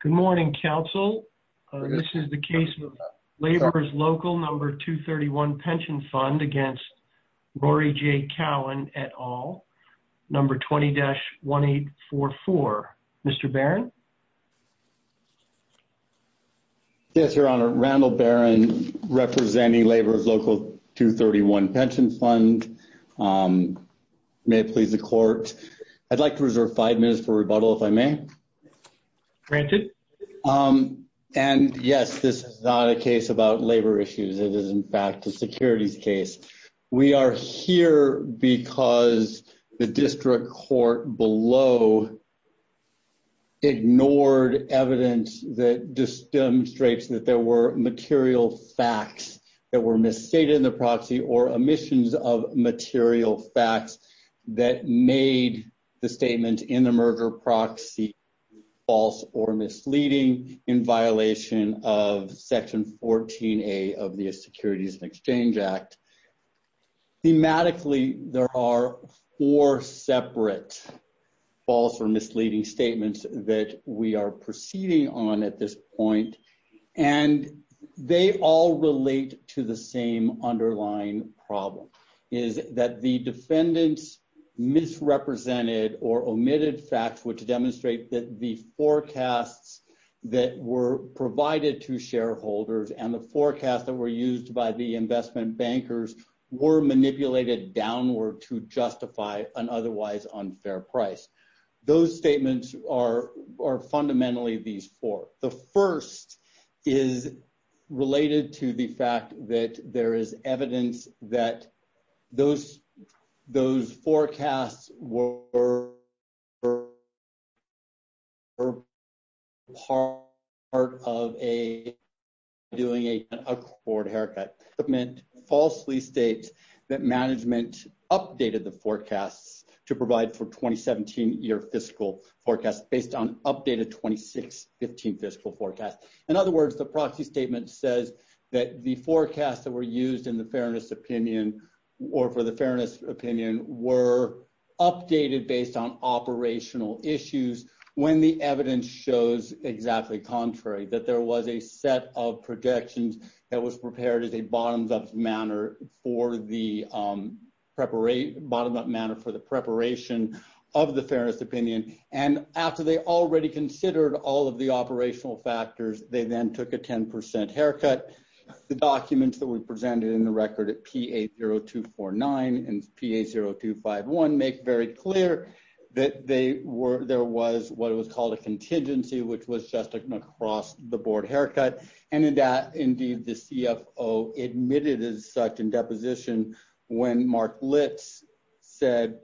Good morning, Council. This is the case of Laborers Local No. 231 Pension Fund against Rory J. Cowan, et al., No. 20-1844. Mr. Barron. Yes, Your Honor. Randall Barron, representing Laborers Local No. 231 Pension Fund. May it please the Court, I'd like to reserve five minutes for rebuttal, if I may. Granted. And, yes, this is not a case about labor issues. It is, in fact, a securities case. We are here because the district court below ignored evidence that just demonstrates that there were material facts that were misstated in the proxy or omissions of material facts that made the statement in the merger proxy false or misleading in violation of Section 14a of the Securities and Exchange Act. Thematically, there are four separate false or misleading statements that we are proceeding on at this point, and they all relate to the same underlying problem, is that the defendants misrepresented or omitted facts which demonstrate that the forecasts that were provided to shareholders and the forecast that were used by the investment bankers were manipulated downward to justify an otherwise unfair price. Those statements are fundamentally these four. The first is related to the fact that there is evidence that those forecasts were part of doing a forward haircut. The statement falsely states that management updated the forecasts to based on updated 2016 fiscal forecast. In other words, the proxy statement says that the forecasts that were used in the fairness opinion or for the fairness opinion were updated based on operational issues when the evidence shows exactly contrary, that there was a set of projections that was prepared as a bottom-up manner for the preparation of the forecast. After they already considered all of the operational factors, they then took a 10% haircut. The documents that were presented in the record at PA-0249 and PA-0251 make very clear that there was what was called a contingency, which was just an across-the-board haircut, and in that indeed the CFO admitted as such in deposition when Mark Litz said,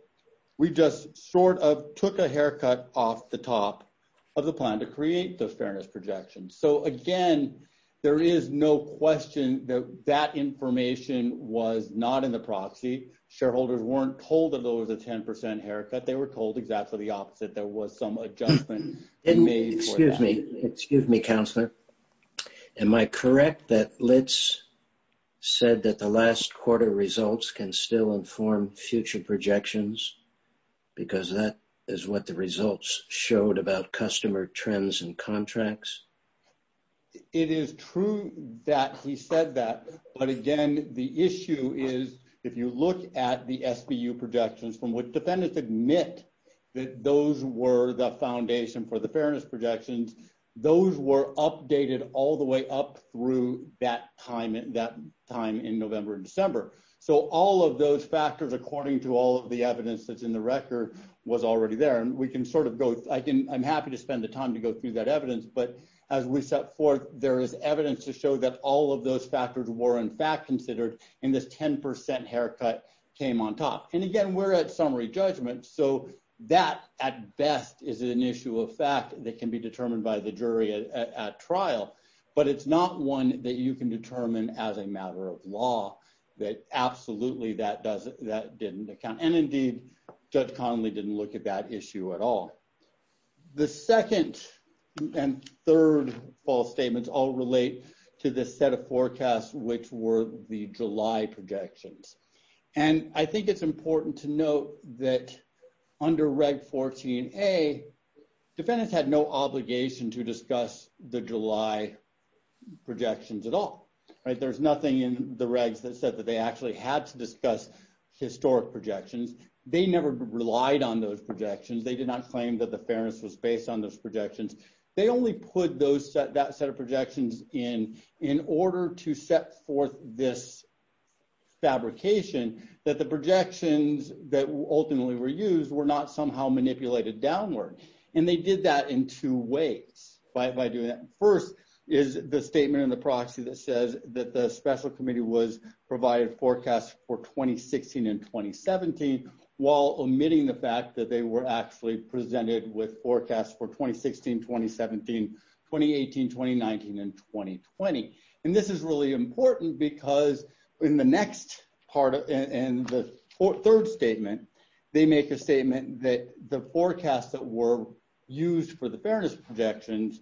we just sort of took a haircut off the top of the plan to create the fairness projection. So again, there is no question that that information was not in the proxy. Shareholders weren't told that there was a 10% haircut. They were told exactly the opposite. There was some adjustment. Excuse me, counselor, am I correct that Litz said that the last quarter results can still inform future projections because that is what the results showed about customer trends and contracts? It is true that he said that, but again the issue is if you look at the SBU projections from which defendants admit that those were the foundation for the fairness projections, those were updated all the way up through that time in November and December. So all of those factors according to all of the evidence that's in the record was already there, and we can sort of go, I'm happy to spend the time to go through that evidence, but as we set forth there is evidence to show that all of those factors were in fact considered in this 10% haircut came on top. And again we're at summary judgment, so that at best is an issue of fact that can be determined by the jury at trial, but it's not one that you can determine as a that didn't account, and indeed Judge Connolly didn't look at that issue at all. The second and third false statements all relate to this set of forecasts which were the July projections, and I think it's important to note that under Reg 14a defendants had no obligation to discuss the July projections at all. There's nothing in the regs that said that they actually had to discuss historic projections. They never relied on those projections. They did not claim that the fairness was based on those projections. They only put that set of projections in in order to set forth this fabrication that the projections that ultimately were used were not somehow manipulated downward, and they did that in two ways by doing that. First is the that they were actually presented with forecasts for 2016, 2017, 2018, 2019, and 2020, and this is really important because in the third statement they make a statement that the forecasts that were used for the fairness projections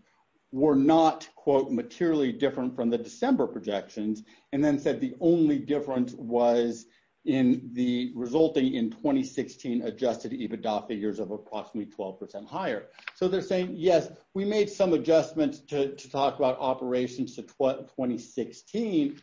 were not quote materially different from the December projections, and then said the only difference was in the resulting in 2016 adjusted EBITDA figures of approximately 12% higher. So they're saying yes, we made some adjustments to talk about operations to 2016,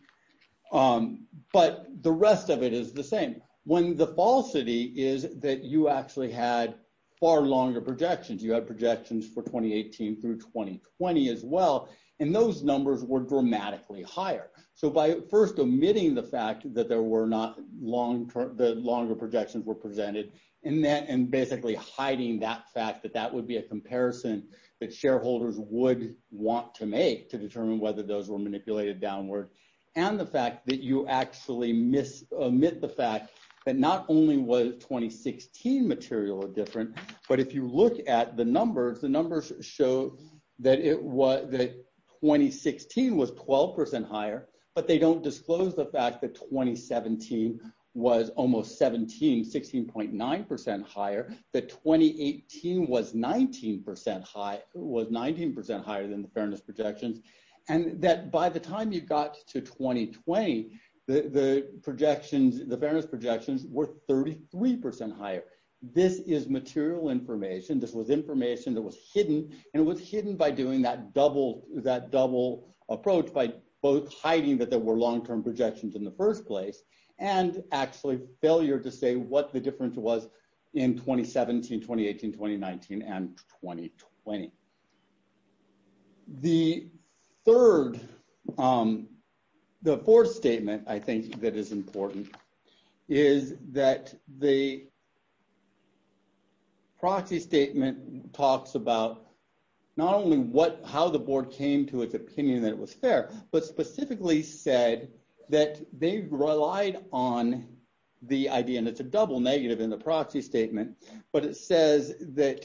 but the rest of it is the same. When the falsity is that you actually had far longer projections, you have projections for 2018 through 2020 as well, and those numbers were dramatically higher. So by first omitting the fact that the longer projections were presented and basically hiding that fact that that would be a comparison that shareholders would want to make to determine whether those were manipulated downward, and the fact that you actually omit the fact that not only was 2016 material different, but if you look at the numbers the numbers show that 2016 was 12% higher, but they don't disclose the fact that 2017 was almost 17, 16.9% higher, that 2018 was 19% higher than the fairness projections, and that by the time you got to 2020, the projections, the fairness projections were 33% higher. This is material information, this was information that was hidden, and it was hidden by doing that double approach by both hiding that there were long-term projections in the first place, and actually failure to say what the difference was in 2017, 2018, 2019, and 2020. The third, the fourth statement I think that is important, is that the proxy statement talks about not only what, how the board came to its opinion that it was fair, but specifically said that they relied on the idea, and it's a double negative in the proxy statement, but it says that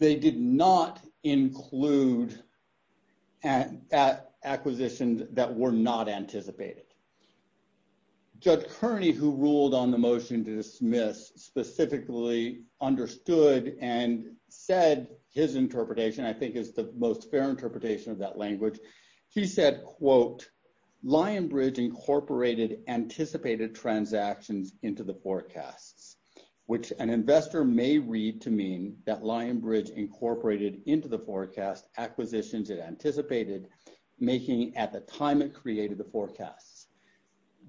they did not include acquisitions that were not anticipated. Judge Kearney, who ruled on the motion to dismiss, specifically understood and said his interpretation, I think is the most fair interpretation of that language, he said, quote, Lionbridge incorporated anticipated transactions into the forecasts, which an investor may read to mean that Lionbridge incorporated into the forecast acquisitions it anticipated, making at the time it created the forecasts.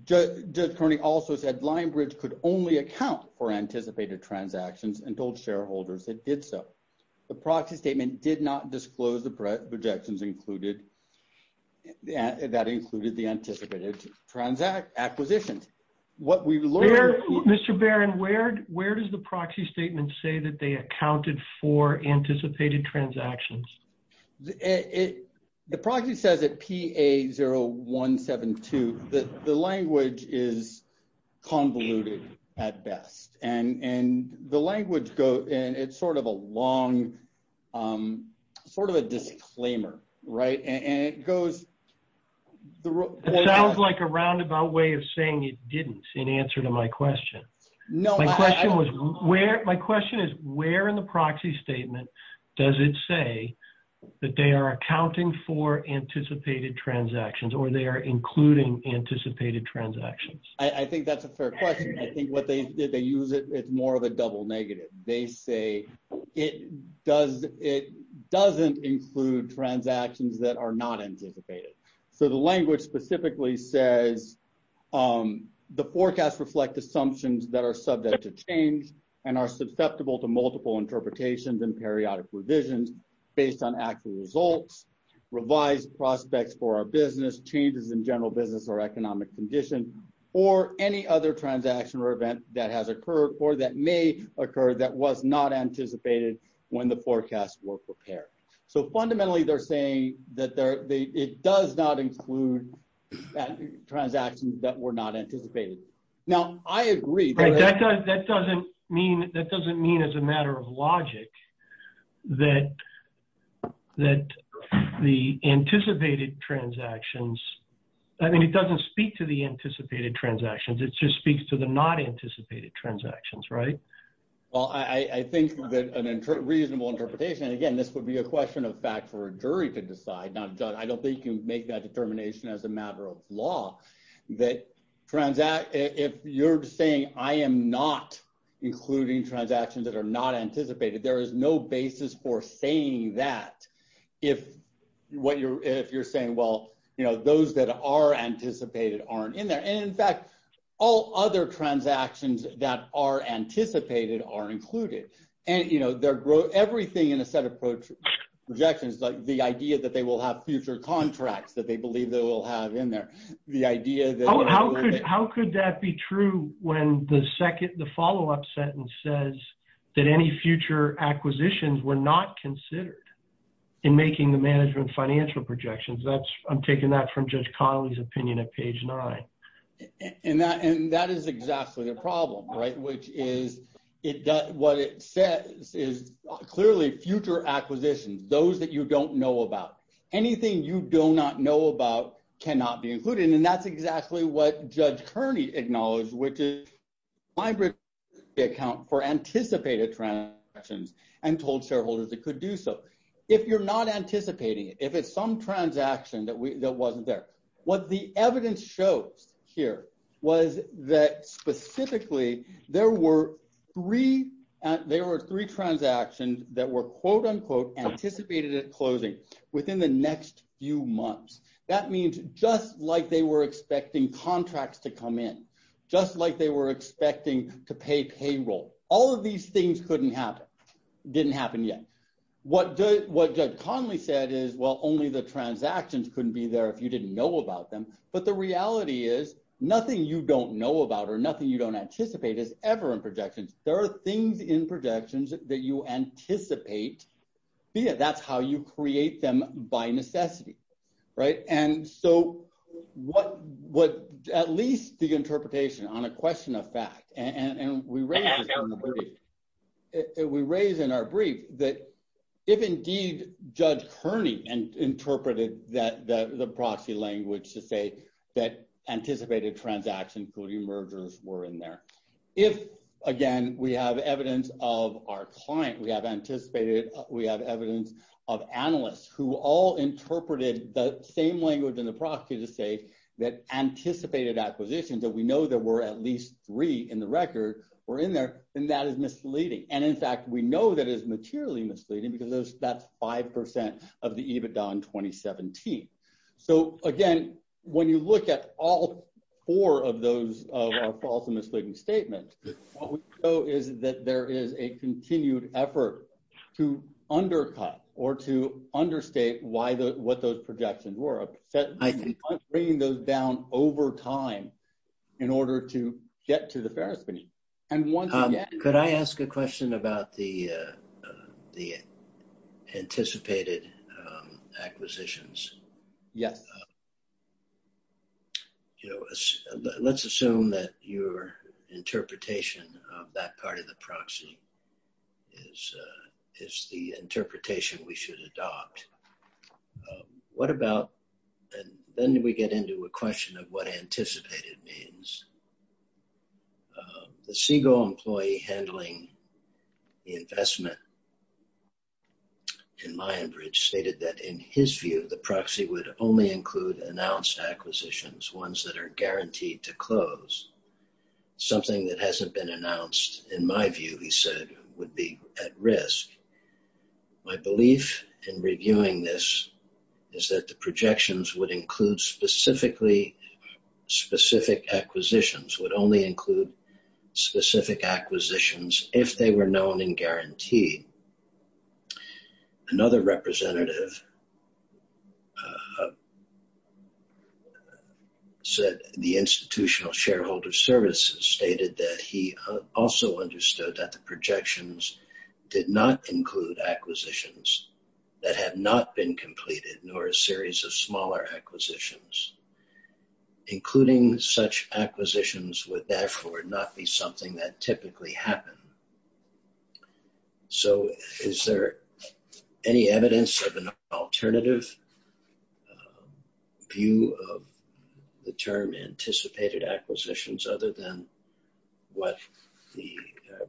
Judge Kearney also said Lionbridge could only account for anticipated transactions and told shareholders that did so. The proxy statement did not disclose the projections included, that included the anticipated transactions, acquisitions. What we've learned... Mr. Barron, where does the proxy statement say that they accounted for anticipated transactions? The proxy says at PA 0172, the language is convoluted at best, and and the language go, and it's sort of a long, sort of a disclaimer, right, and it goes... It sounds like a roundabout way of saying it didn't, in answer to my question was, where, my question is, where in the proxy statement does it say that they are accounting for anticipated transactions, or they are including anticipated transactions? I think that's a fair question. I think what they, they use it, it's more of a double negative. They say it does, it doesn't include transactions that are not anticipated. So the language specifically says the forecasts reflect assumptions that are subject to change and are susceptible to multiple interpretations and periodic revisions based on actual results, revised prospects for our business, changes in general business or economic condition, or any other transaction or event that has occurred, or that may occur, that was not anticipated when the forecasts were prepared. So fundamentally they're saying that it does not include transactions that were not anticipated. Now I agree... Right, that doesn't mean, that doesn't mean as a matter of logic that, that the anticipated transactions, I mean it doesn't speak to the anticipated transactions, it just speaks to the not anticipated transactions, right? Well I think that an reasonable interpretation, and again this would be a question of for a jury to decide, now I don't think you make that determination as a matter of law, that transact, if you're saying I am not including transactions that are not anticipated, there is no basis for saying that if what you're, if you're saying well you know those that are anticipated aren't in there. And in fact all other transactions that are anticipated are included. And you know everything in a set of projections, like the idea that they will have future contracts that they believe they will have in there, the idea that... How could that be true when the second, the follow-up sentence says that any future acquisitions were not considered in making the management financial projections? That's, I'm taking that from Judge Connolly's opinion at page 9. And that is exactly the problem, right? Which is, it does, what it says is clearly future acquisitions, those that you don't know about. Anything you do not know about cannot be included, and that's exactly what Judge Kearney acknowledged, which is my account for anticipated transactions and told shareholders it could do so. If you're not anticipating it, if it's some transaction that we, that specifically there were three, there were three transactions that were quote unquote anticipated at closing within the next few months. That means just like they were expecting contracts to come in, just like they were expecting to pay payroll. All of these things couldn't happen, didn't happen yet. What Judge Connolly said is, well only the transactions couldn't be there if you didn't know about them. But the reality is, nothing you don't know about or nothing you don't anticipate is ever in projections. There are things in projections that you anticipate be it. That's how you create them by necessity, right? And so what, what at least the interpretation on a question of fact, and we raise in our brief that if indeed Judge Kearney interpreted that the proxy language to say that anticipated transactions including mergers were in there. If again we have evidence of our client, we have anticipated, we have evidence of analysts who all interpreted the same language in the proxy to say that anticipated acquisitions that we know there were at least three in the record were in there, then that is misleading. And in fact we that is materially misleading because that's 5% of the EBITDA in 2017. So again when you look at all four of those false and misleading statements, what we know is that there is a continued effort to undercut or to understate why the, what those projections were. Bringing those down over time in order to get to the the anticipated acquisitions. Yes. You know, let's assume that your interpretation of that part of the proxy is, is the interpretation we should adopt. What about, and then we get into a question of what anticipated means. The investment in Lionbridge stated that in his view the proxy would only include announced acquisitions, ones that are guaranteed to close. Something that hasn't been announced in my view, he said, would be at risk. My belief in reviewing this is that the projections would include specifically, specific acquisitions, would only include specific acquisitions if they were known and guaranteed. Another representative said the Institutional Shareholder Services stated that he also understood that the projections did not include acquisitions that have not been completed nor a series of smaller acquisitions. Including acquisitions would therefore not be something that typically happened. So is there any evidence of an alternative view of the term anticipated acquisitions other than what the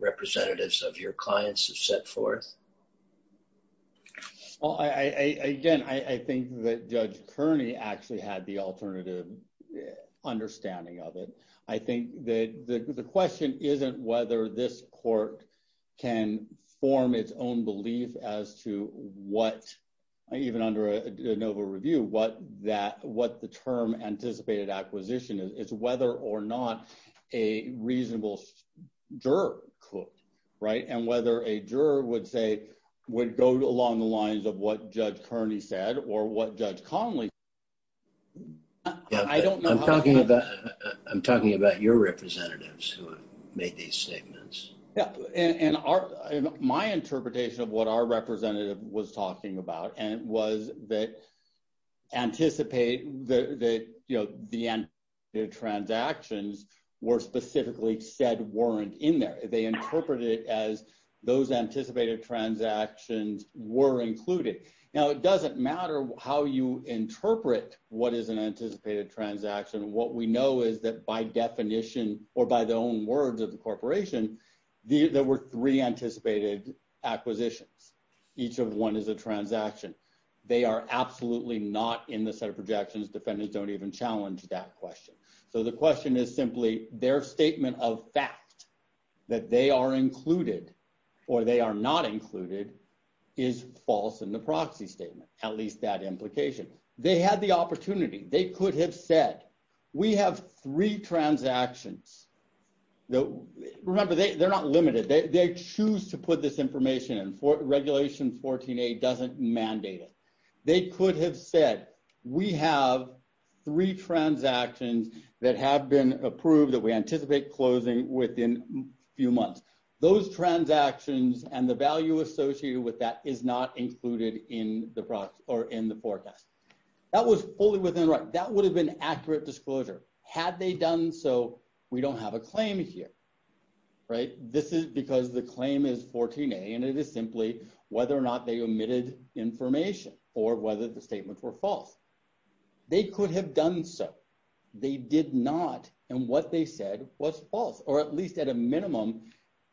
representatives of your clients have set forth? Well, I, again, I think that Judge Kearney actually had the alternative understanding of it. I think that the question isn't whether this court can form its own belief as to what, even under a NOVA review, what that, what the term anticipated acquisition is, is whether or not a reasonable juror could, right? And whether a juror would say, would go along the lines of what Judge Kearney said or what Judge Connolly said. Yeah, I don't know. I'm talking about, I'm talking about your representatives who have made these statements. Yeah. And our, my interpretation of what our representative was talking about and was that anticipate the, the, you know, the anticipated transactions were specifically said, weren't in there. They interpreted it as those anticipated transactions were included. Now, it doesn't matter how you interpret what is an anticipated transaction. What we know is that by definition or by the own words of the corporation, there were three anticipated acquisitions. Each of one is a transaction. They are absolutely not in the set of projections. Defendants don't even challenge that question. So the assumption that they are included or they are not included is false in the proxy statement. At least that implication. They had the opportunity. They could have said, we have three transactions. Remember, they, they're not limited. They, they choose to put this information in regulation 14A doesn't mandate it. They could have said, we have three transactions that have been approved that we anticipate closing within a few months. Those transactions and the value associated with that is not included in the product or in the forecast. That was fully within the right. That would have been accurate disclosure had they done. So we don't have a claim here, right? This is because the claim is 14A and it is simply whether or not they omitted information or whether the statements were false. They could have done so. They did not. And what they said was false, or at least at a minimum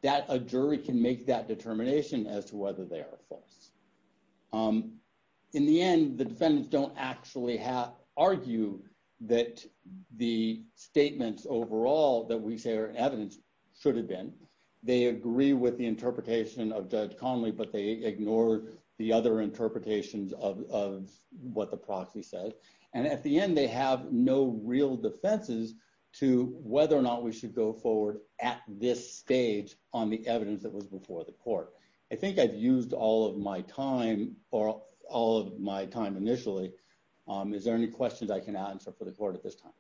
that a jury can make that determination as to whether they are false. In the end, the defendants don't actually have argue that the statements overall that we say are evidence should have been. They agree with the interpretation of Judge Connolly, but they ignore the other interpretations of what the proxy said. And at the end, they have no real defenses to whether or not we should go forward at this stage on the evidence that was before the court. I think I've used all of my time or all of my time initially. Is there any questions I can answer for the court at this time?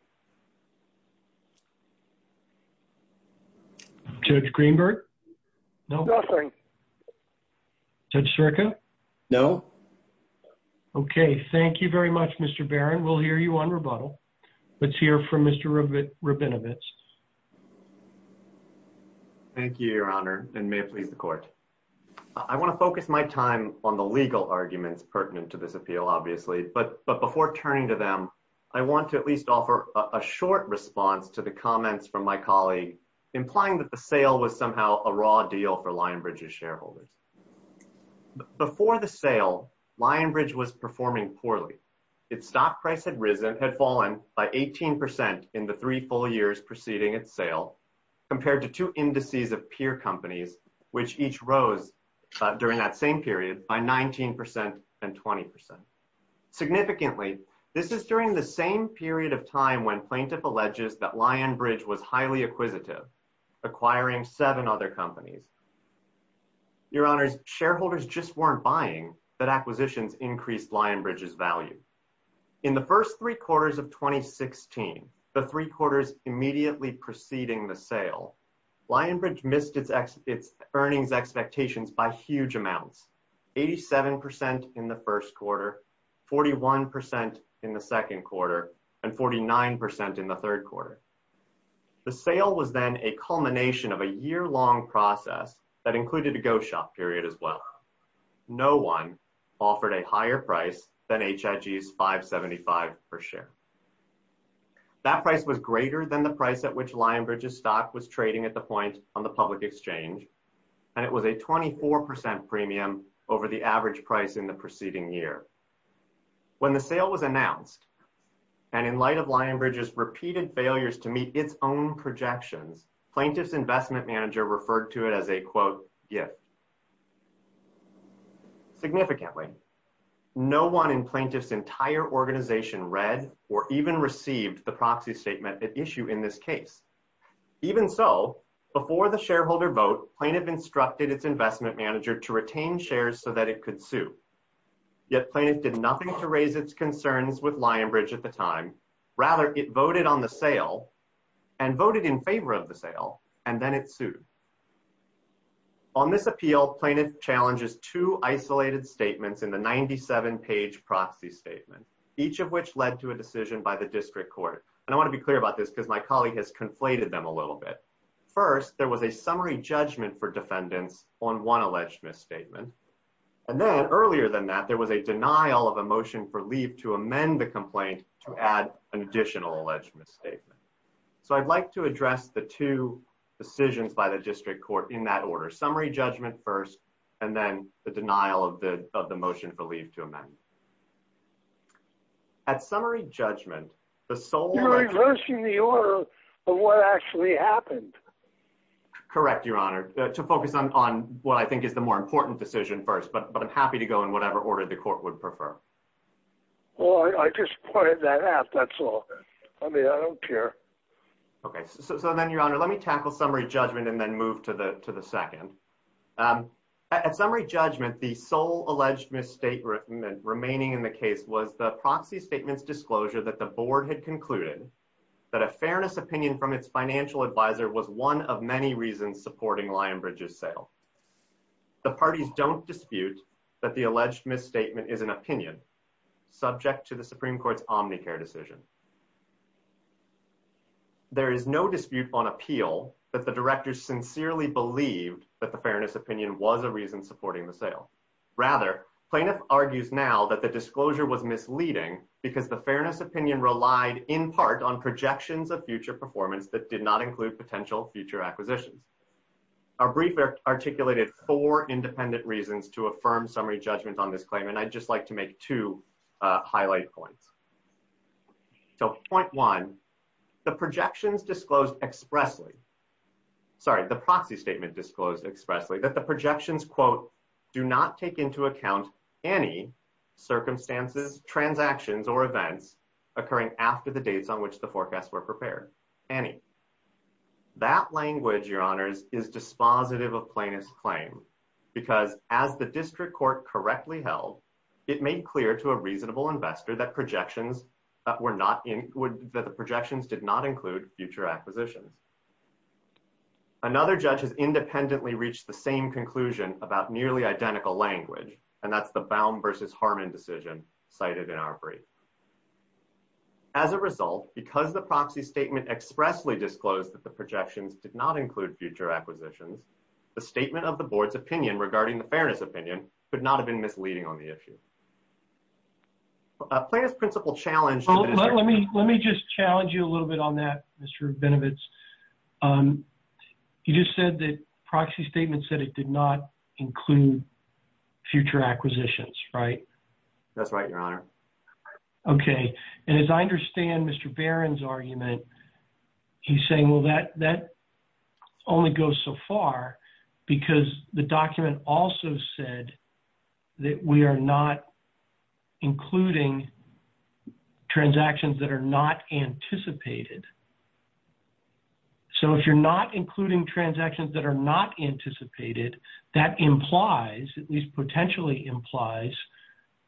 Judge Greenberg. No, nothing. Judge Circa. No. Okay. Thank you very much, Mr Barron. We'll hear you on rebuttal. Let's hear from Mr Ruben Rabinowitz. Thank you, Your Honor. And may it please the court. I want to focus my time on the legal arguments pertinent to this appeal, obviously. But but before turning to them, I want to at least offer a short response to the comments from my colleague, implying that the sale was somehow a raw deal for Lion Bridge's shareholders. Before the sale, Lion Bridge was performing poorly. Its stock price had risen had fallen by 18% in the three full years preceding its sale, compared to two indices of peer companies, which each rose during that period by 19% and 20%. Significantly, this is during the same period of time when plaintiff alleges that Lion Bridge was highly acquisitive, acquiring seven other companies. Your Honor's shareholders just weren't buying that acquisitions increased Lion Bridge's value. In the first three quarters of 2016, the three quarters immediately preceding the sale, Lion Bridge missed its its earnings expectations by huge amounts 87% in the first quarter, 41% in the second quarter, and 49% in the third quarter. The sale was then a culmination of a year long process that included a go shop period as well. No one offered a higher price than HIV is 575 per share. That price was greater than the price at which Lion Bridges stock was trading at the point on the public exchange. And it was a 24% premium over the average price in the preceding year. When the sale was announced, and in light of Lion Bridges repeated failures to meet its own projections, plaintiffs investment manager referred to it as a quote, yeah. Significantly, no one in plaintiffs entire organization read or even received the proxy statement issue in this case. Even so, before the shareholder vote, plaintiff instructed its investment manager to retain shares so that it could sue. Yet plaintiff did nothing to raise its concerns with Lion Bridge at the time. Rather, it voted on the sale, and voted in favor of the sale, and then it sued. On this appeal plaintiff challenges two isolated statements in the 97 page proxy statement, each of which led to a decision by the district court. And I want to be clear about this because my colleague has conflated them a little bit. First, there was a summary judgment for defendants on one alleged misstatement. And then earlier than that, there was a denial of a motion for leave to amend the complaint to add an additional alleged misstatement. So I'd like to address the two decisions by the district court in that order summary judgment first, and then the denial of the of the motion for leave to amend. At summary judgment, the sole reversing the order of what actually happened. Correct, Your Honor, to focus on what I think is the more important decision first, but but I'm happy to go in whatever order the court would prefer. Well, I just pointed that out. That's all. I mean, I don't care. Okay, so then Your Honor, let me tackle summary judgment and then move to the to the second. At summary judgment, the sole alleged misstatement remaining in the case was the proxy statements disclosure that the board had concluded that a fairness opinion from its financial advisor was one of many reasons supporting Lionbridge's sale. The parties don't dispute that the alleged misstatement is an opinion subject to the Supreme Court's Omnicare decision. There is no dispute on appeal that the directors sincerely believed that the fairness opinion was a reason supporting the sale. Rather, plaintiff argues now that the disclosure was misleading because the fairness opinion relied in part on projections of future performance that did not include potential future acquisitions. Our brief articulated four independent reasons to affirm summary judgment on this claim, and I'd just like to make two highlight points. So point one, the projections disclosed expressly. Sorry, the proxy statement disclosed expressly that the projections, quote, do not take into account any circumstances, transactions, or events occurring after the dates on which the forecasts were prepared. Any. That language, Your Honors, is dispositive of plaintiff's claim, because as the district court correctly held, it made clear to a reasonable investor that projections that were not in would that the projections did not include future acquisitions. Another judge has independently reached the same conclusion about nearly identical language, and that's the bound versus Harmon decision cited in our brief. As a result, because the proxy statement expressly disclosed that the projections did not include future acquisitions, the statement of the board's opinion regarding the fairness opinion could not have been misleading on the issue. Plaintiff's principal challenge. Let me let me just challenge you a little bit on that, Mr Benevides. Um, you just said that proxy statement said it did not include future acquisitions, right? That's right, Your Honor. Okay. And as I understand Mr Barron's argument, he's saying, Well, that that only goes so far because the document also said that we're not including transactions that are not anticipated. So if you're not including transactions that are not anticipated, that implies at least potentially implies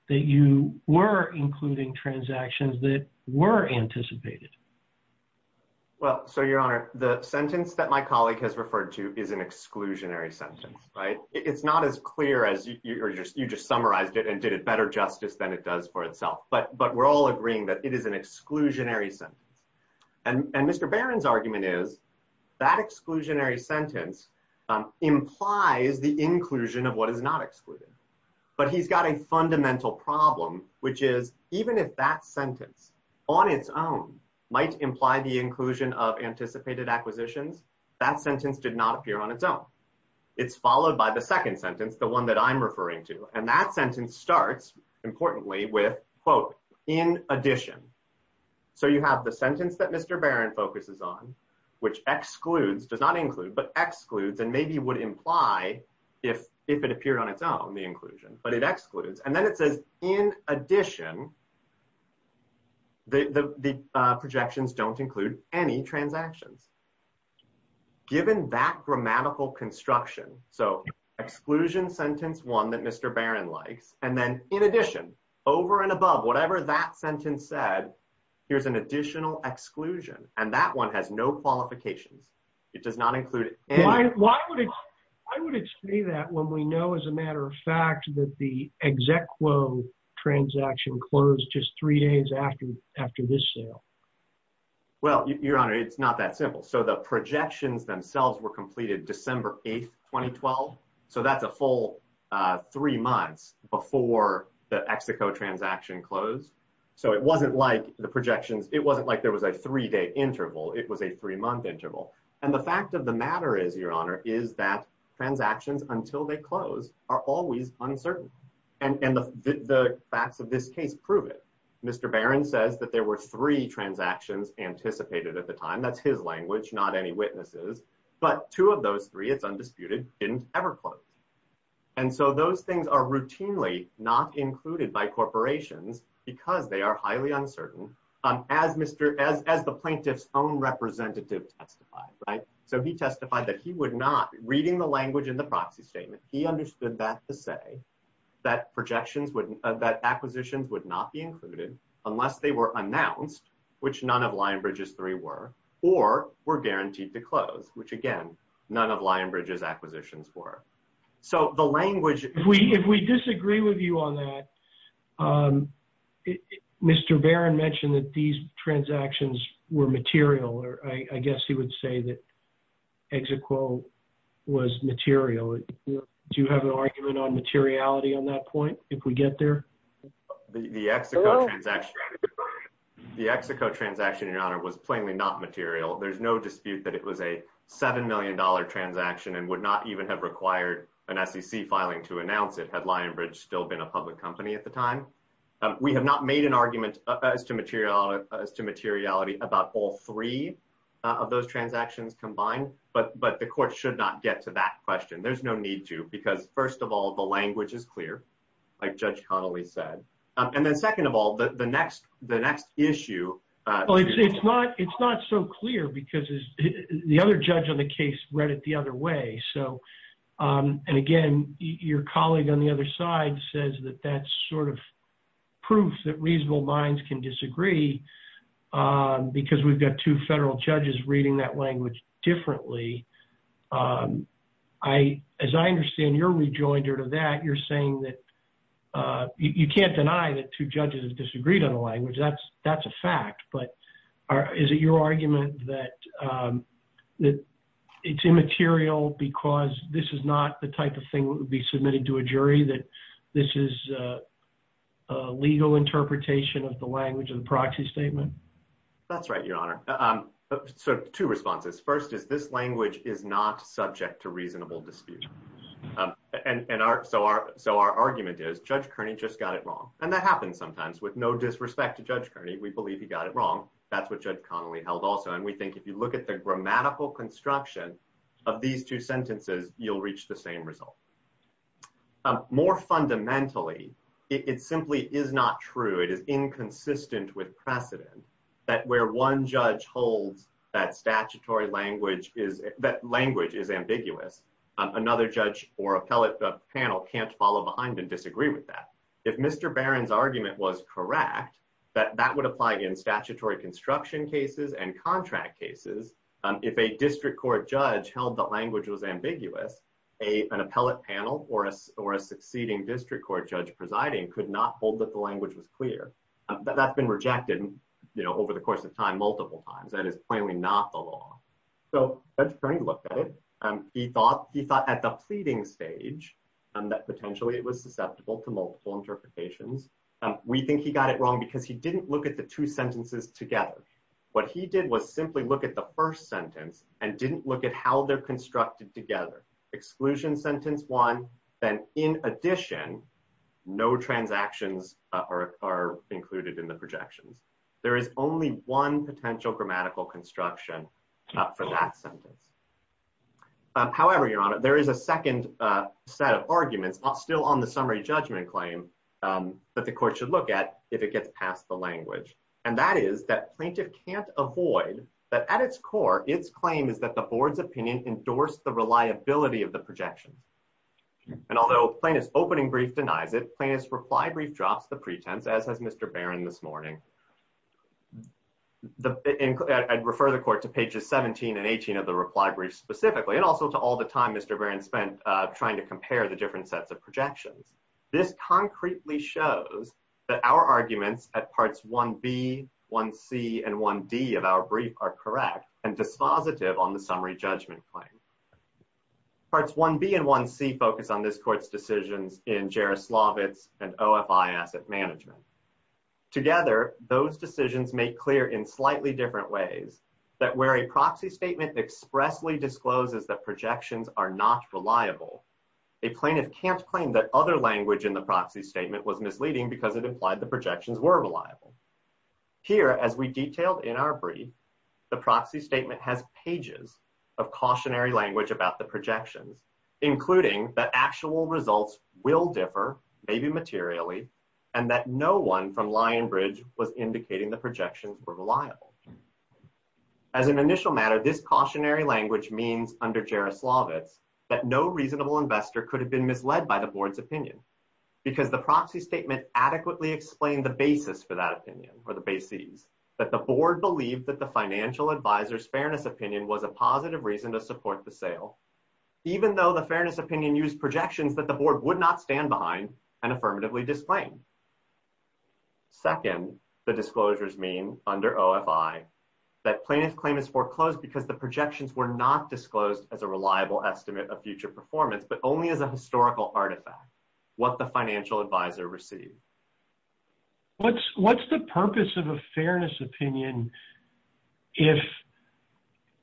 that you were including transactions that were anticipated. Well, so, Your Honor, the sentence that my colleague has referred to is an exclusionary sentence, right? It's not as clear as you just summarized it and did it better justice than it does for itself. But but we're all agreeing that it is an exclusionary sentence. And Mr Barron's argument is that exclusionary sentence implies the inclusion of what is not excluded. But he's got a fundamental problem, which is, even if that sentence on its own might imply the inclusion of anticipated acquisitions, that sentence did not appear on its own. It's followed by the second sentence, the one that I'm referring to. And that sentence that Mr. Barron focuses on, which excludes does not include but excludes and maybe would imply if if it appeared on its own the inclusion, but it excludes and then it says in addition, the projections don't include any transactions. Given that grammatical construction, so exclusion sentence one that Mr. Barron likes, and then in addition, over and above whatever that sentence said, here's an additional exclusion, and that one has no qualifications. It does not include it. Why? Why would it? I wouldn't say that when we know, as a matter of fact, that the exact quote transaction closed just three days after after this sale. Well, your honor, it's not that simple. So the projections themselves were completed December 8th, 2012. So that's a full three months before the X projections. It wasn't like there was a three day interval. It was a three month interval. And the fact of the matter is, your honor, is that transactions until they close are always uncertain. And the facts of this case prove it. Mr. Barron says that there were three transactions anticipated at the time. That's his language, not any witnesses. But two of those three, it's undisputed, didn't ever close. And so those things are as the plaintiff's own representative testified, right? So he testified that he would not, reading the language in the proxy statement, he understood that to say that acquisitions would not be included unless they were announced, which none of Lionbridge's three were, or were guaranteed to close, which again, none of Lionbridge's acquisitions were. So the language... If we disagree with you on that, Mr. Barron mentioned that these transactions were material, or I guess he would say that Execo was material. Do you have an argument on materiality on that point, if we get there? The Execo transaction, your honor, was plainly not material. There's no dispute that it was a $7 million transaction and would not even have required an SEC filing to announce it, had Lionbridge still been a public company at the time. We have not made an argument as to materiality about all three of those transactions combined, but the court should not get to that question. There's no need to, because first of all, the language is clear, like Judge Connolly said. And then second of all, the next issue... Well, it's not so clear because the other judge on the case read it the same way. And again, your colleague on the other side says that that's sort of proof that reasonable minds can disagree, because we've got two federal judges reading that language differently. As I understand your rejoinder to that, you're saying that... You can't deny that two judges have disagreed on the language, that's a fact, but is it your argument that it's immaterial because this is not the type of thing that would be submitted to a jury, that this is a legal interpretation of the language of the proxy statement? That's right, your honor. So two responses. First is, this language is not subject to reasonable dispute. So our argument is, Judge Kearney just got it wrong, and that happens sometimes. With no disrespect to Judge Kearney, we believe he got it wrong. That's what Judge Connolly held also. And we think if you look at the grammatical construction of these two sentences, you'll reach the same result. More fundamentally, it simply is not true, it is inconsistent with precedent that where one judge holds that statutory language is... That language is ambiguous, another judge or appellate panel can't follow behind and disagree with that. If Mr. Barron's argument was correct, that that would apply in statutory construction cases and contract cases. If a district court judge held that language was ambiguous, an appellate panel or a succeeding district court judge presiding could not hold that the language was clear. That's been rejected over the course of time, multiple times, that is plainly not the law. So Judge Kearney looked at it, he thought at the pleading stage that potentially it was susceptible to multiple interpretations. We think he got it wrong because he didn't look at the two sentences together. What he did was simply look at the first sentence and didn't look at how they're constructed together. Exclusion sentence one, then in addition, no transactions are included in the projections. There is only one potential grammatical construction for that sentence. However, Your Honor, there is a second set of arguments still on the summary judgment claim that the court should look at if it gets past the language. And that is that plaintiff can't avoid that at its core, its claim is that the board's opinion endorsed the reliability of the projection. And although plaintiff's opening brief denies it, plaintiff's reply brief drops the pretense, as has Mr. Barron this morning. I'd refer the court to pages 17 and 18 of the reply brief specifically, and also to all the time Mr. Barron spent trying to compare the different sets of projections. This concretely shows that our arguments at parts 1b, 1c, and 1d of our brief are correct and dispositive on the summary judgment claim. Parts 1b and 1c focus on this court's decisions in Jaroslavitz and OFI asset management. Together, those decisions make clear in slightly different ways that where a proxy statement expressly discloses that a plaintiff can't claim that other language in the proxy statement was misleading because it implied the projections were reliable. Here, as we detailed in our brief, the proxy statement has pages of cautionary language about the projections, including that actual results will differ, maybe materially, and that no one from Lionbridge was indicating the projections were reliable. As an initial matter, this cautionary language means under Jaroslavitz that no reasonable investor could have been misled by the board's opinion because the proxy statement adequately explained the basis for that opinion, or the bases, that the board believed that the financial advisor's fairness opinion was a positive reason to support the sale, even though the fairness opinion used projections that the board would not stand behind and affirmatively disclaim. Second, the disclosures mean under OFI that plaintiff claim is foreclosed because the projections were not disclosed as a reliable estimate of future performance, but only as a historical artifact, what the financial advisor received. What's the purpose of a fairness opinion if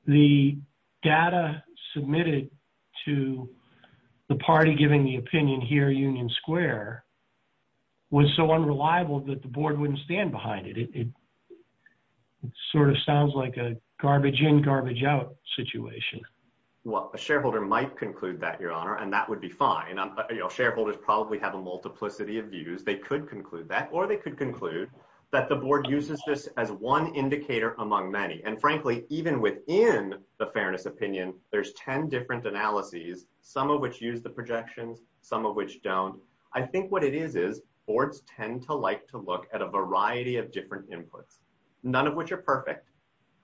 the data submitted to the party giving the opinion here, Union Square, was so unreliable that the board wouldn't stand behind it? It sort of sounds like a garbage in, garbage out situation. Well, a shareholder might conclude that, Your Honor, and that would be fine. Shareholders probably have a multiplicity of views. They could conclude that, or they could conclude that the board uses this as one indicator among many. And frankly, even within the fairness opinion, there's 10 different analyses, some of which use the projections, some of which don't. I think what it is, is boards tend to like to look at a variety of different inputs, none of which are perfect,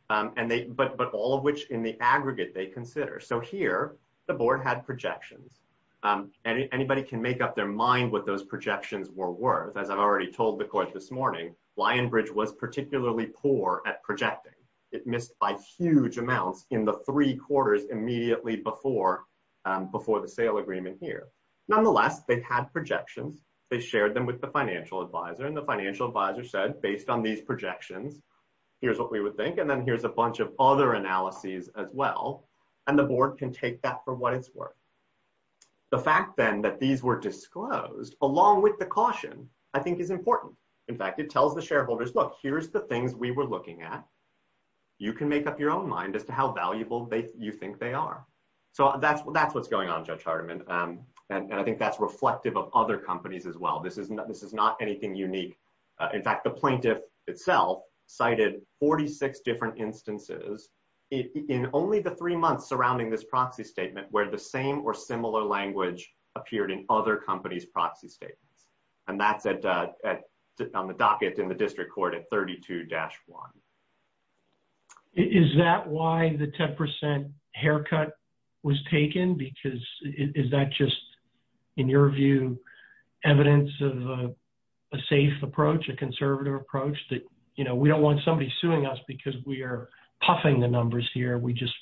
but all of which in the aggregate they consider. So here, the board had projections. Anybody can make up their mind what those projections were worth. As I've already told the court this morning, Lionbridge was particularly poor at projecting. It missed by huge amounts in the three quarters immediately before the sale agreement here. Nonetheless, they had projections, they shared them with the financial advisor, and the financial advisor said, based on these projections, here's what we would think. And then here's a bunch of other analyses as well. And the board can take that for what it's worth. The fact then that these were disclosed, along with the caution, I think is important. In fact, it tells the shareholders, look, here's the things we were looking at. You can make up your own mind as to how valuable you think they are. So that's what's going on, Judge Hardiman. And I think that's reflective of other companies as well. This is not anything unique. In fact, the plaintiff itself cited 46 different instances in only the three months surrounding this proxy statement where the same or similar language appeared in other companies' proxy statements. And that's on the docket in the district court at 32-1. Is that why the 10% haircut was taken? Because is that just, in your view, evidence of a safe approach, a conservative approach that, you know, we don't want somebody suing us because we are puffing the numbers here. We just...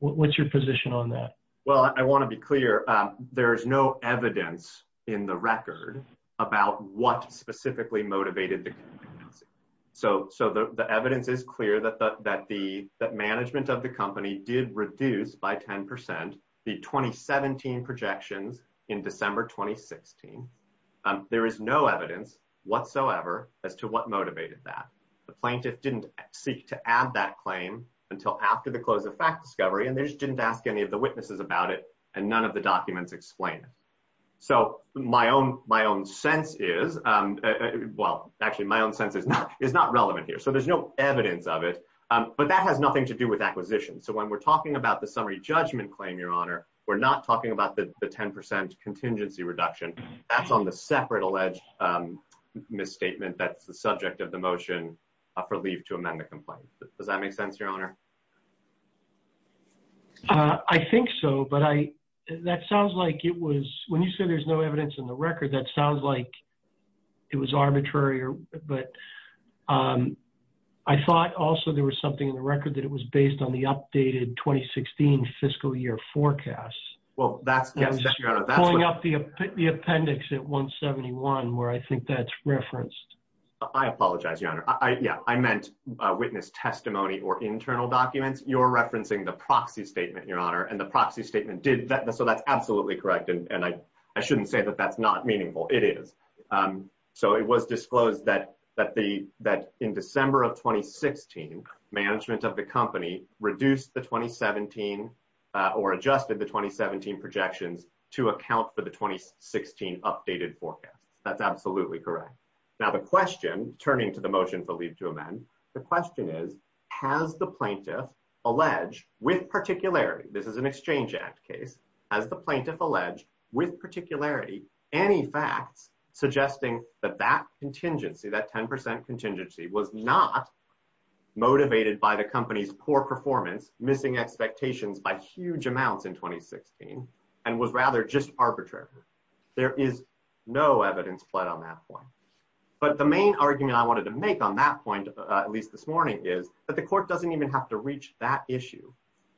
What's your position on that? Well, I want to be clear. There's no evidence in the record about what specifically motivated the... So the evidence is clear that the management of the company did reduce by 10% the number in November 2016. There is no evidence whatsoever as to what motivated that. The plaintiff didn't seek to add that claim until after the close of fact discovery, and they just didn't ask any of the witnesses about it, and none of the documents explain it. So my own sense is... Well, actually, my own sense is not relevant here. So there's no evidence of it, but that has nothing to do with acquisition. So when we're talking about the summary judgment claim, Your Honor, we're not talking about the 10% contingency reduction. That's on the separate alleged misstatement that's the subject of the motion for leave to amend the complaint. Does that make sense, Your Honor? I think so, but that sounds like it was... When you said there's no evidence in the record, that sounds like it was arbitrary, but I thought also there was something in the record that it was based on the updated 2016 fiscal year forecast. Well, that's... Yes, Your Honor, that's what... Pulling up the appendix at 171, where I think that's referenced. I apologize, Your Honor. Yeah, I meant witness testimony or internal documents. You're referencing the proxy statement, Your Honor, and the proxy statement did... So that's absolutely correct, and I shouldn't say that that's not meaningful. It is. So it was disclosed that in December of 2016, management of the company reduced the 2017 or adjusted the 2017 projections to account for the 2016 updated forecast. That's absolutely correct. Now, the question, turning to the motion for leave to amend, the question is, has the plaintiff alleged with particularity, this is an Exchange Act case, has the plaintiff alleged with particularity any facts suggesting that that contingency, that 10% contingency was not motivated by the company's poor performance, missing expectations by huge amounts in 2016, and was rather just arbitrary? There is no evidence put on that point. But the main argument I wanted to make on that point, at least this morning, is that the court doesn't even have to reach that issue,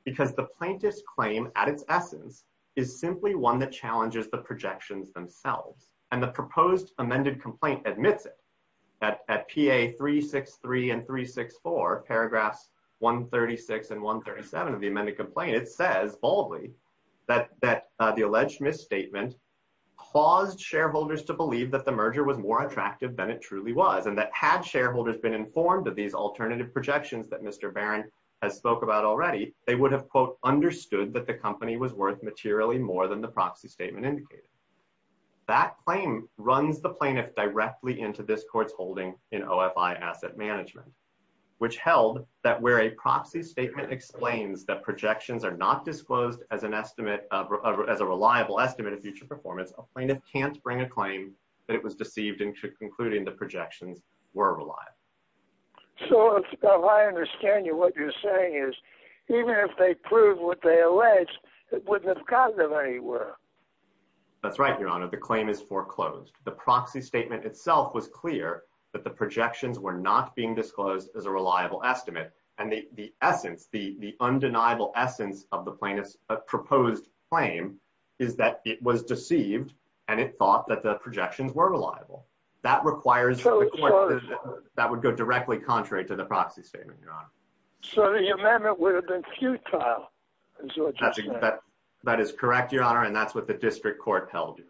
because the plaintiff's claim at its essence is simply one that challenges the projections themselves. And the proposed amended complaint admits it. At PA 363 and 364, paragraphs 136 and 137 of the amended complaint, it says boldly that the alleged misstatement caused shareholders to believe that the merger was more attractive than it truly was, and that had shareholders been informed of these alternative projections that Mr. Barron has spoke about already, they would have, quote, the company was worth materially more than the proxy statement indicated. That claim runs the plaintiff directly into this court's holding in OFI asset management, which held that where a proxy statement explains that projections are not disclosed as an estimate, as a reliable estimate of future performance, a plaintiff can't bring a claim that it was deceived into concluding the projections were reliable. So, if I understand you, what you're saying is, even if they prove what they allege, it wouldn't have caused them any work. That's right, Your Honor. The claim is foreclosed. The proxy statement itself was clear that the projections were not being disclosed as a reliable estimate. And the essence, the undeniable essence of the plaintiff's proposed claim is that it was deceived, and it thought that the projections were reliable. That requires... That would go directly contrary to the proxy statement, Your Honor. So, the amendment would have been futile, is what you're saying. That is correct, Your Honor, and that's what the district court held, Your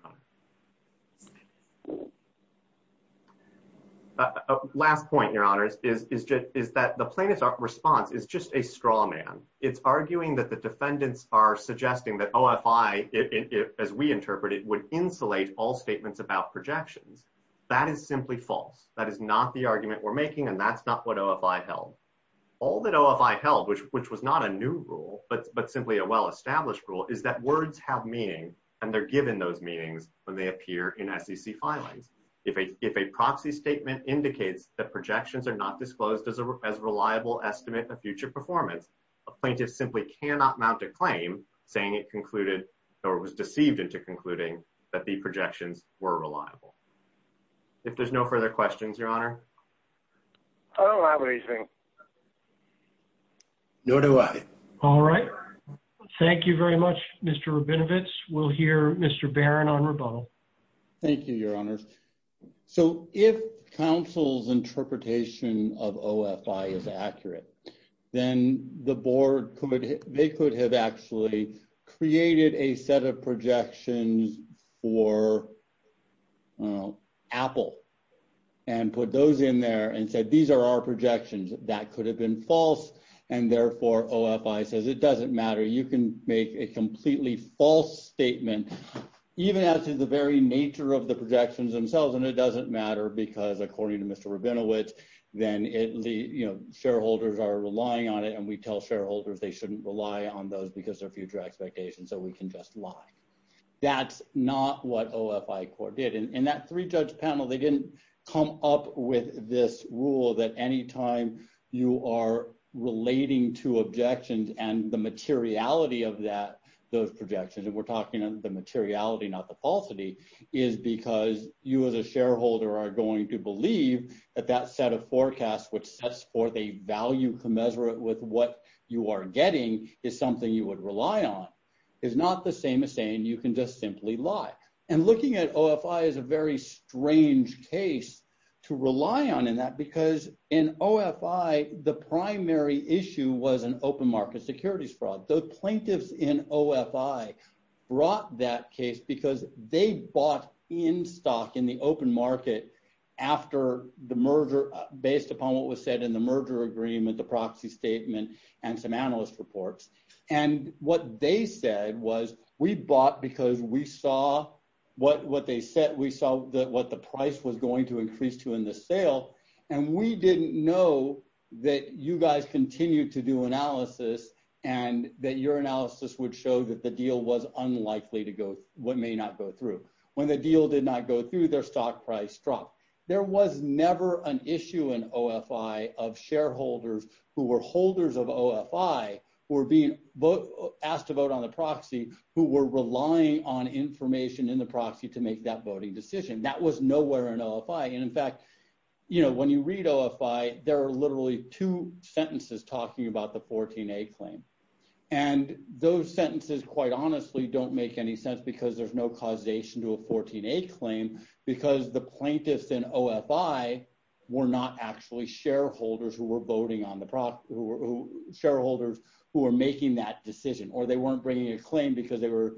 Honor. Last point, Your Honors, is that the plaintiff's response is just a straw man. It's arguing that the defendants are suggesting that OFI, as we interpret it, would insulate all statements about projections. That is simply false. That is not the argument we're making, and that's not what OFI held. All that OFI held, which was not a new rule, but simply a well-established rule, is that words have meaning, and they're given those meanings when they appear in SEC filings. If a proxy statement indicates that projections are not disclosed as a reliable estimate of future performance, a plaintiff simply cannot mount a claim saying it concluded, or was deceived into concluding, that the projections were reliable. If there's no further questions, Your Honor. I don't have anything. Nor do I. All right. Thank you very much, Mr. Rabinovitz. We'll hear Mr. Barron on rebuttal. Thank you, Your Honors. So, if counsel's interpretation of OFI is accurate, then the board could, they could have actually created a set of projections for, I don't know, Apple, and put those in there and said, these are our projections. That could have been false, and therefore, OFI says, it doesn't matter. You can make a completely false statement, even as to the very nature of the projections themselves, and it doesn't matter because, according to Mr. Rabinovitz, then it, you know, shareholders are relying on it, and we tell shareholders they shouldn't rely on those because they're future expectations, so we can just lie. That's not what OFI did. In that three-judge panel, they didn't come up with this rule that any time you are relating to objections and the materiality of that, those projections, and we're talking the materiality, not the falsity, is because you as a shareholder are going to believe that that set of forecasts, which sets forth a value commensurate with what you are getting, is something you would rely on. It's not the same as saying you can just simply lie. And looking at OFI is a very strange case to rely on in that because in OFI, the primary issue was an open market securities fraud. The plaintiffs in OFI brought that case because they bought in stock in the open market after the merger, based upon what was said in the merger agreement, the proxy statement, and some analyst reports, and what they said was we bought because we saw what they said. We saw what the price was going to increase to in the sale, and we didn't know that you guys continued to do analysis and that your analysis would show that the deal was unlikely to go, what may not go through. When the deal did not go through, their stock price dropped. There was never an issue in OFI of shareholders who were holders of OFI, who were being asked to vote on the proxy, who were relying on information in the proxy to make that voting decision. That was nowhere in OFI. And in fact, when you read OFI, there are literally two sentences talking about the 14A claim. And those sentences, quite honestly, don't make any sense because there's no causation to a 14A claim because the plaintiffs in OFI were not actually shareholders who were voting on the, shareholders who were making that decision, or they weren't bringing a claim because they were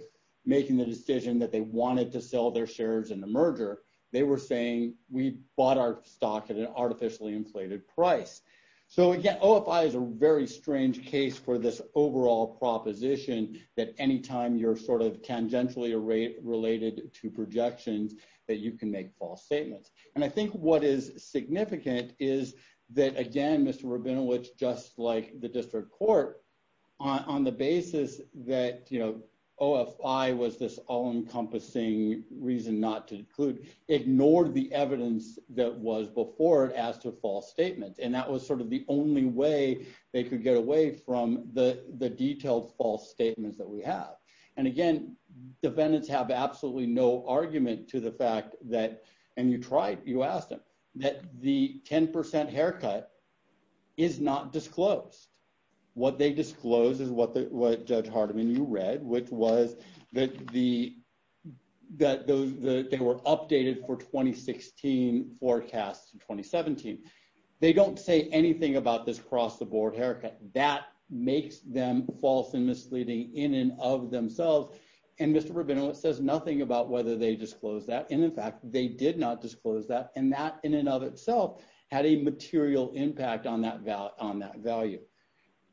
making the decision that they wanted to sell their shares in the merger. They were saying we bought our stock at an artificially inflated price. So again, OFI is a very strange case for this overall proposition that anytime you're sort of tangentially related to projections that you can make false statements. And I think what is significant is that again, Mr. Rabinowitz, just like the district court on the basis that, you know, OFI was this all encompassing reason not to include, ignored the evidence that was before it as to false statements. And that was sort of the only way they could get away from the detailed false statements that we have. And again, defendants have absolutely no argument to the fact that, and you tried, you asked him, that the 10% haircut is not disclosed. What they disclosed is what the, what judge Hardiman, you read, which was that the, that those, the, they were updated for 2016 forecasts in 2017. They don't say anything about this cross the board haircut that makes them false and misleading in and of themselves. And Mr. Rabinowitz says nothing about whether they disclosed that. And in fact, they did not disclose that. And that in and of itself had a material impact on that value, on that value.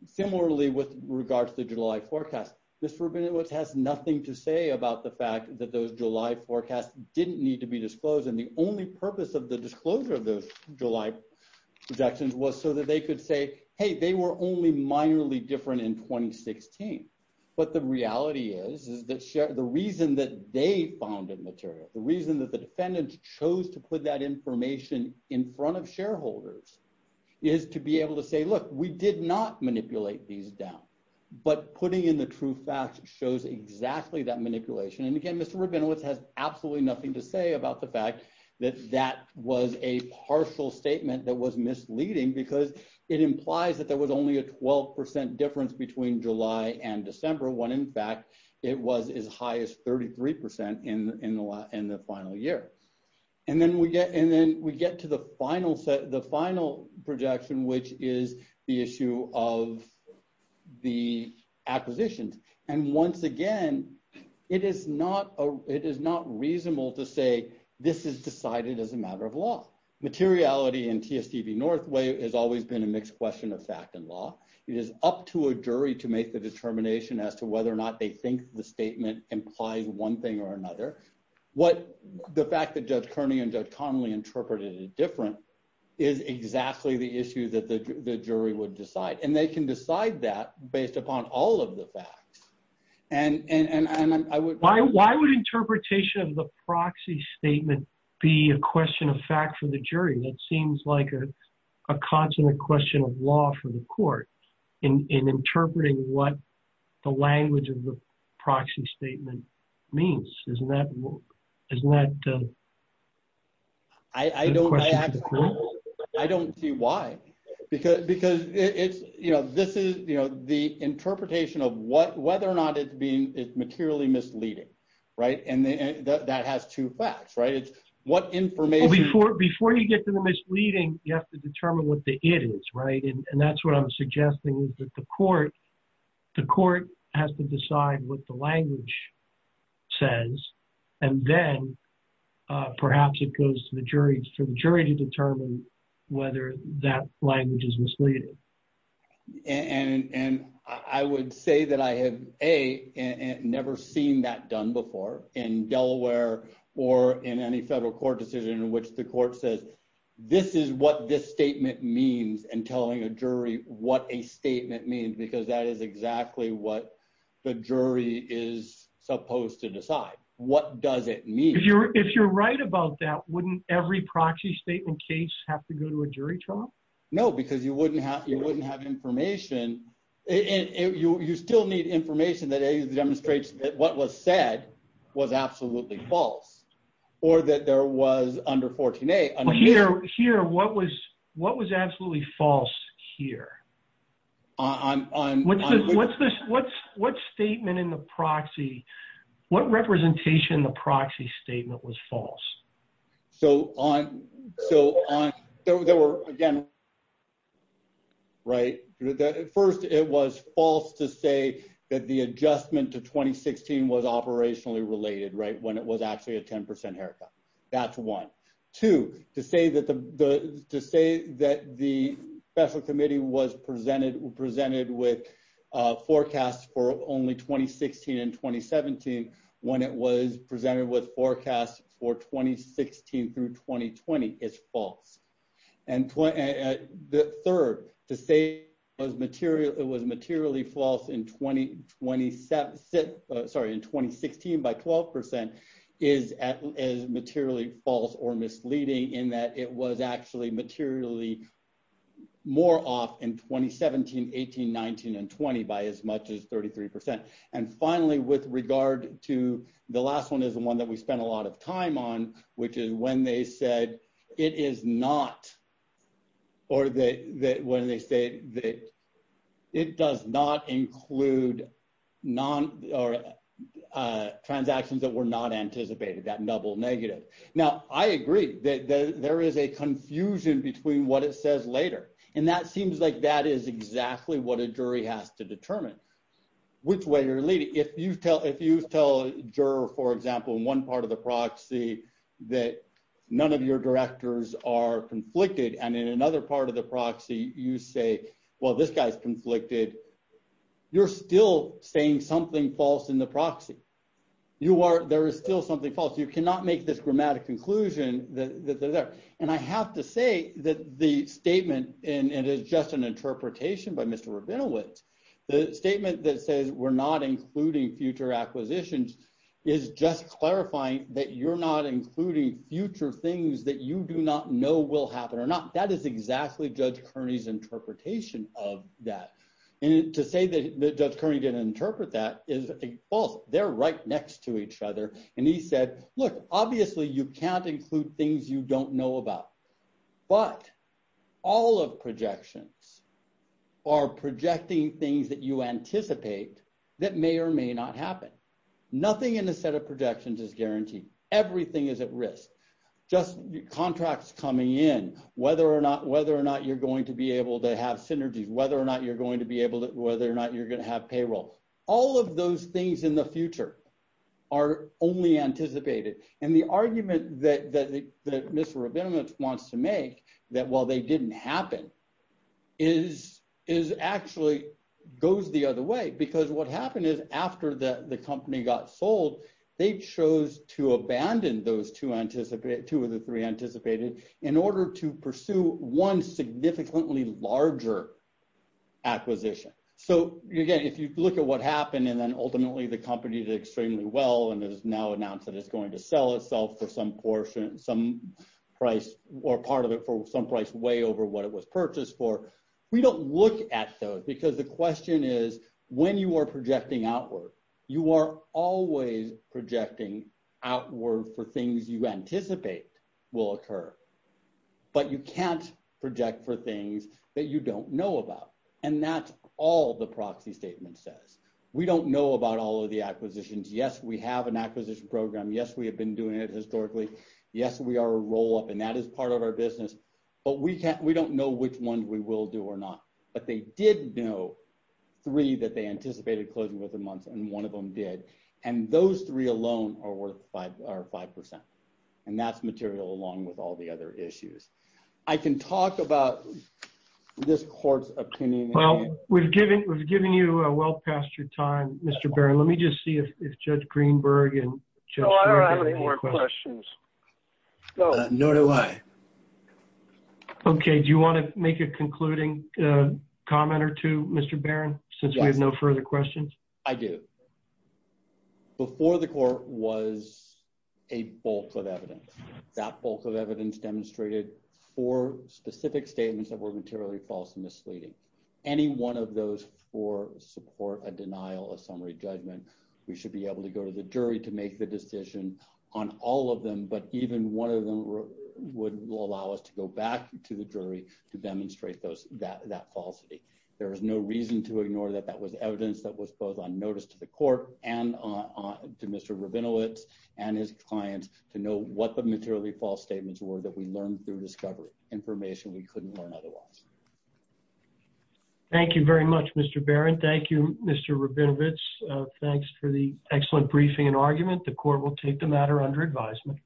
Similarly, with regards to the July forecast, Mr. Rabinowitz has nothing to say about the fact that those July forecasts didn't need to be disclosed. And the only purpose of the disclosure of those July projections was so that they could say, Hey, they were only minorly different in 2016, but the reality is, the reason that they found it material, the reason that the defendant chose to put that information in front of shareholders is to be able to say, look, we did not manipulate these down, but putting in the true facts shows exactly that manipulation. And again, Mr. Rabinowitz has absolutely nothing to say about the fact that that was a partial statement that was misleading because it implies that there was only a 12% difference between July and December when in fact it was as high as 33% in the final year. And then we get, and then we get to the final set, the final projection, which is the issue of the acquisitions. And once again, it is not a, it is not reasonable to say this is decided as a matter of law. Materiality and TSTV Northway has always been a mixed question of fact and law. It is up to a jury to make the determination as to whether or not they think the statement implies one thing or another, what the fact that judge Kearney and judge Connolly interpreted it different is exactly the issue that the jury would decide, and they can decide that based upon all of the facts and, and, and, and I would, why, why would interpretation of the proxy statement be a question of fact for the jury? That seems like a, a constant question of law for the court in, in interpreting what the language of the proxy statement means, isn't that, isn't that? I don't, I don't see why, because, because it's, you know, this is, you know, the interpretation of what, whether or not it's being materially misleading, right. And that has two facts, right. What information... Before, before you get to the misleading, you have to determine what the it is, right. And that's what I'm suggesting is that the court, the court has to decide what the language says, and then perhaps it goes to the jury, to the jury to determine whether that language is misleading. And, and I would say that I have A, never seen that done before in Delaware or in any federal court decision in which the court says, this is what this statement means and telling a jury what a statement means, because that is exactly what the jury is supposed to decide. What does it mean? If you're, if you're right about that, wouldn't every proxy statement case have to go to a jury trial? No, because you wouldn't have, you wouldn't have information. And you, you still need information that either demonstrates that what was said was absolutely false or that there was under 14-A... Well, here, here, what was, what was absolutely false here? On, on... What's this, what's this, what's, what statement in the proxy, what representation the proxy statement was false? So on, so on, there were, there were again, right. First, it was false to say that the adjustment to 2016 was operationally related, right? When it was actually a 10% haircut. That's one. Two, to say that the, to say that the special committee was presented, presented with a forecast for only 2016 and 2017, when it was presented with forecasts for 2016 through 2020, it's false. And the third, to say it was material, it was materially false in 20, 27, sorry, in 2016 by 12% is, is materially false or misleading in that it was actually materially more off in 2017, 18, 19, and 20 by as much as 33%. And finally, with regard to the last one is the one that we spent a lot of time on, which is when they said it is not, or that, that when they say that it does not include non or transactions that were not anticipated, that double negative. Now I agree that there is a confusion between what it says later. And that seems like that is exactly what a jury has to determine, which way you're leading. If you tell, if you tell juror, for example, in one part of the proxy that none of your directors are conflicted. And in another part of the proxy, you say, well, this guy's conflicted. You're still saying something false in the proxy. You are, there is still something false. You cannot make this grammatic conclusion that they're there. And I have to say that the statement, and it is just an example of not including future acquisitions, is just clarifying that you're not including future things that you do not know will happen or not. That is exactly Judge Kearney's interpretation of that. And to say that Judge Kearney didn't interpret that is false. They're right next to each other. And he said, look, obviously you can't include things you don't know about, but all of projections are projecting things that you anticipate that may or may not happen. Nothing in a set of projections is guaranteed. Everything is at risk. Just contracts coming in, whether or not, whether or not you're going to be able to have synergies, whether or not you're going to be able to, whether or not you're going to have payroll, all of those things in the future are only anticipated. And the argument that Mr. Rabinowitz wants to make that, well, they didn't happen is actually goes the other way, because what happened is after the company got sold, they chose to abandon those two of the three anticipated in order to pursue one significantly larger acquisition. So, again, if you look at what happened and then ultimately the company did extremely well and has now announced that it's going to sell itself for some portion, some price or part of it for some price way over what it was purchased for. We don't look at those because the question is when you are projecting outward, you are always projecting outward for things you anticipate will occur. But you can't project for things that you don't know about. And that's all the proxy statement says. We don't know about all of the acquisitions. Yes, we have an acquisition program. Yes, we have been doing it historically. Yes, we are a roll up and that is part of our business. But we don't know which one we will do or not. But they did know three that they anticipated closing within months and one of them did. And those three alone are worth five percent. And that's material along with all the other issues. I can talk about this court's opinion. Well, we've given you a well past your time, Mr. Barron, let me just see if Judge Greenberg and I have any more questions. Nor do I. OK, do you want to make a concluding comment or two, Mr. Barron, since we have no further questions? I do. Before the court was a bulk of evidence, that bulk of evidence demonstrated for specific statements that were materially false and misleading. Any one of those four support a denial of summary judgment. We should be able to go to the jury to make the decision on all of them. But even one of them would allow us to go back to the jury to demonstrate that that falsity. There is no reason to ignore that. That was evidence that was both on notice to the court and to Mr. Rabinowitz and his clients to know what the materially false statements were that we learned through discovery information we couldn't learn otherwise. Thank you very much, Mr. Barron. Thank you, Mr. Rabinowitz. Thanks for the excellent briefing and argument. The court will take the matter under advisement.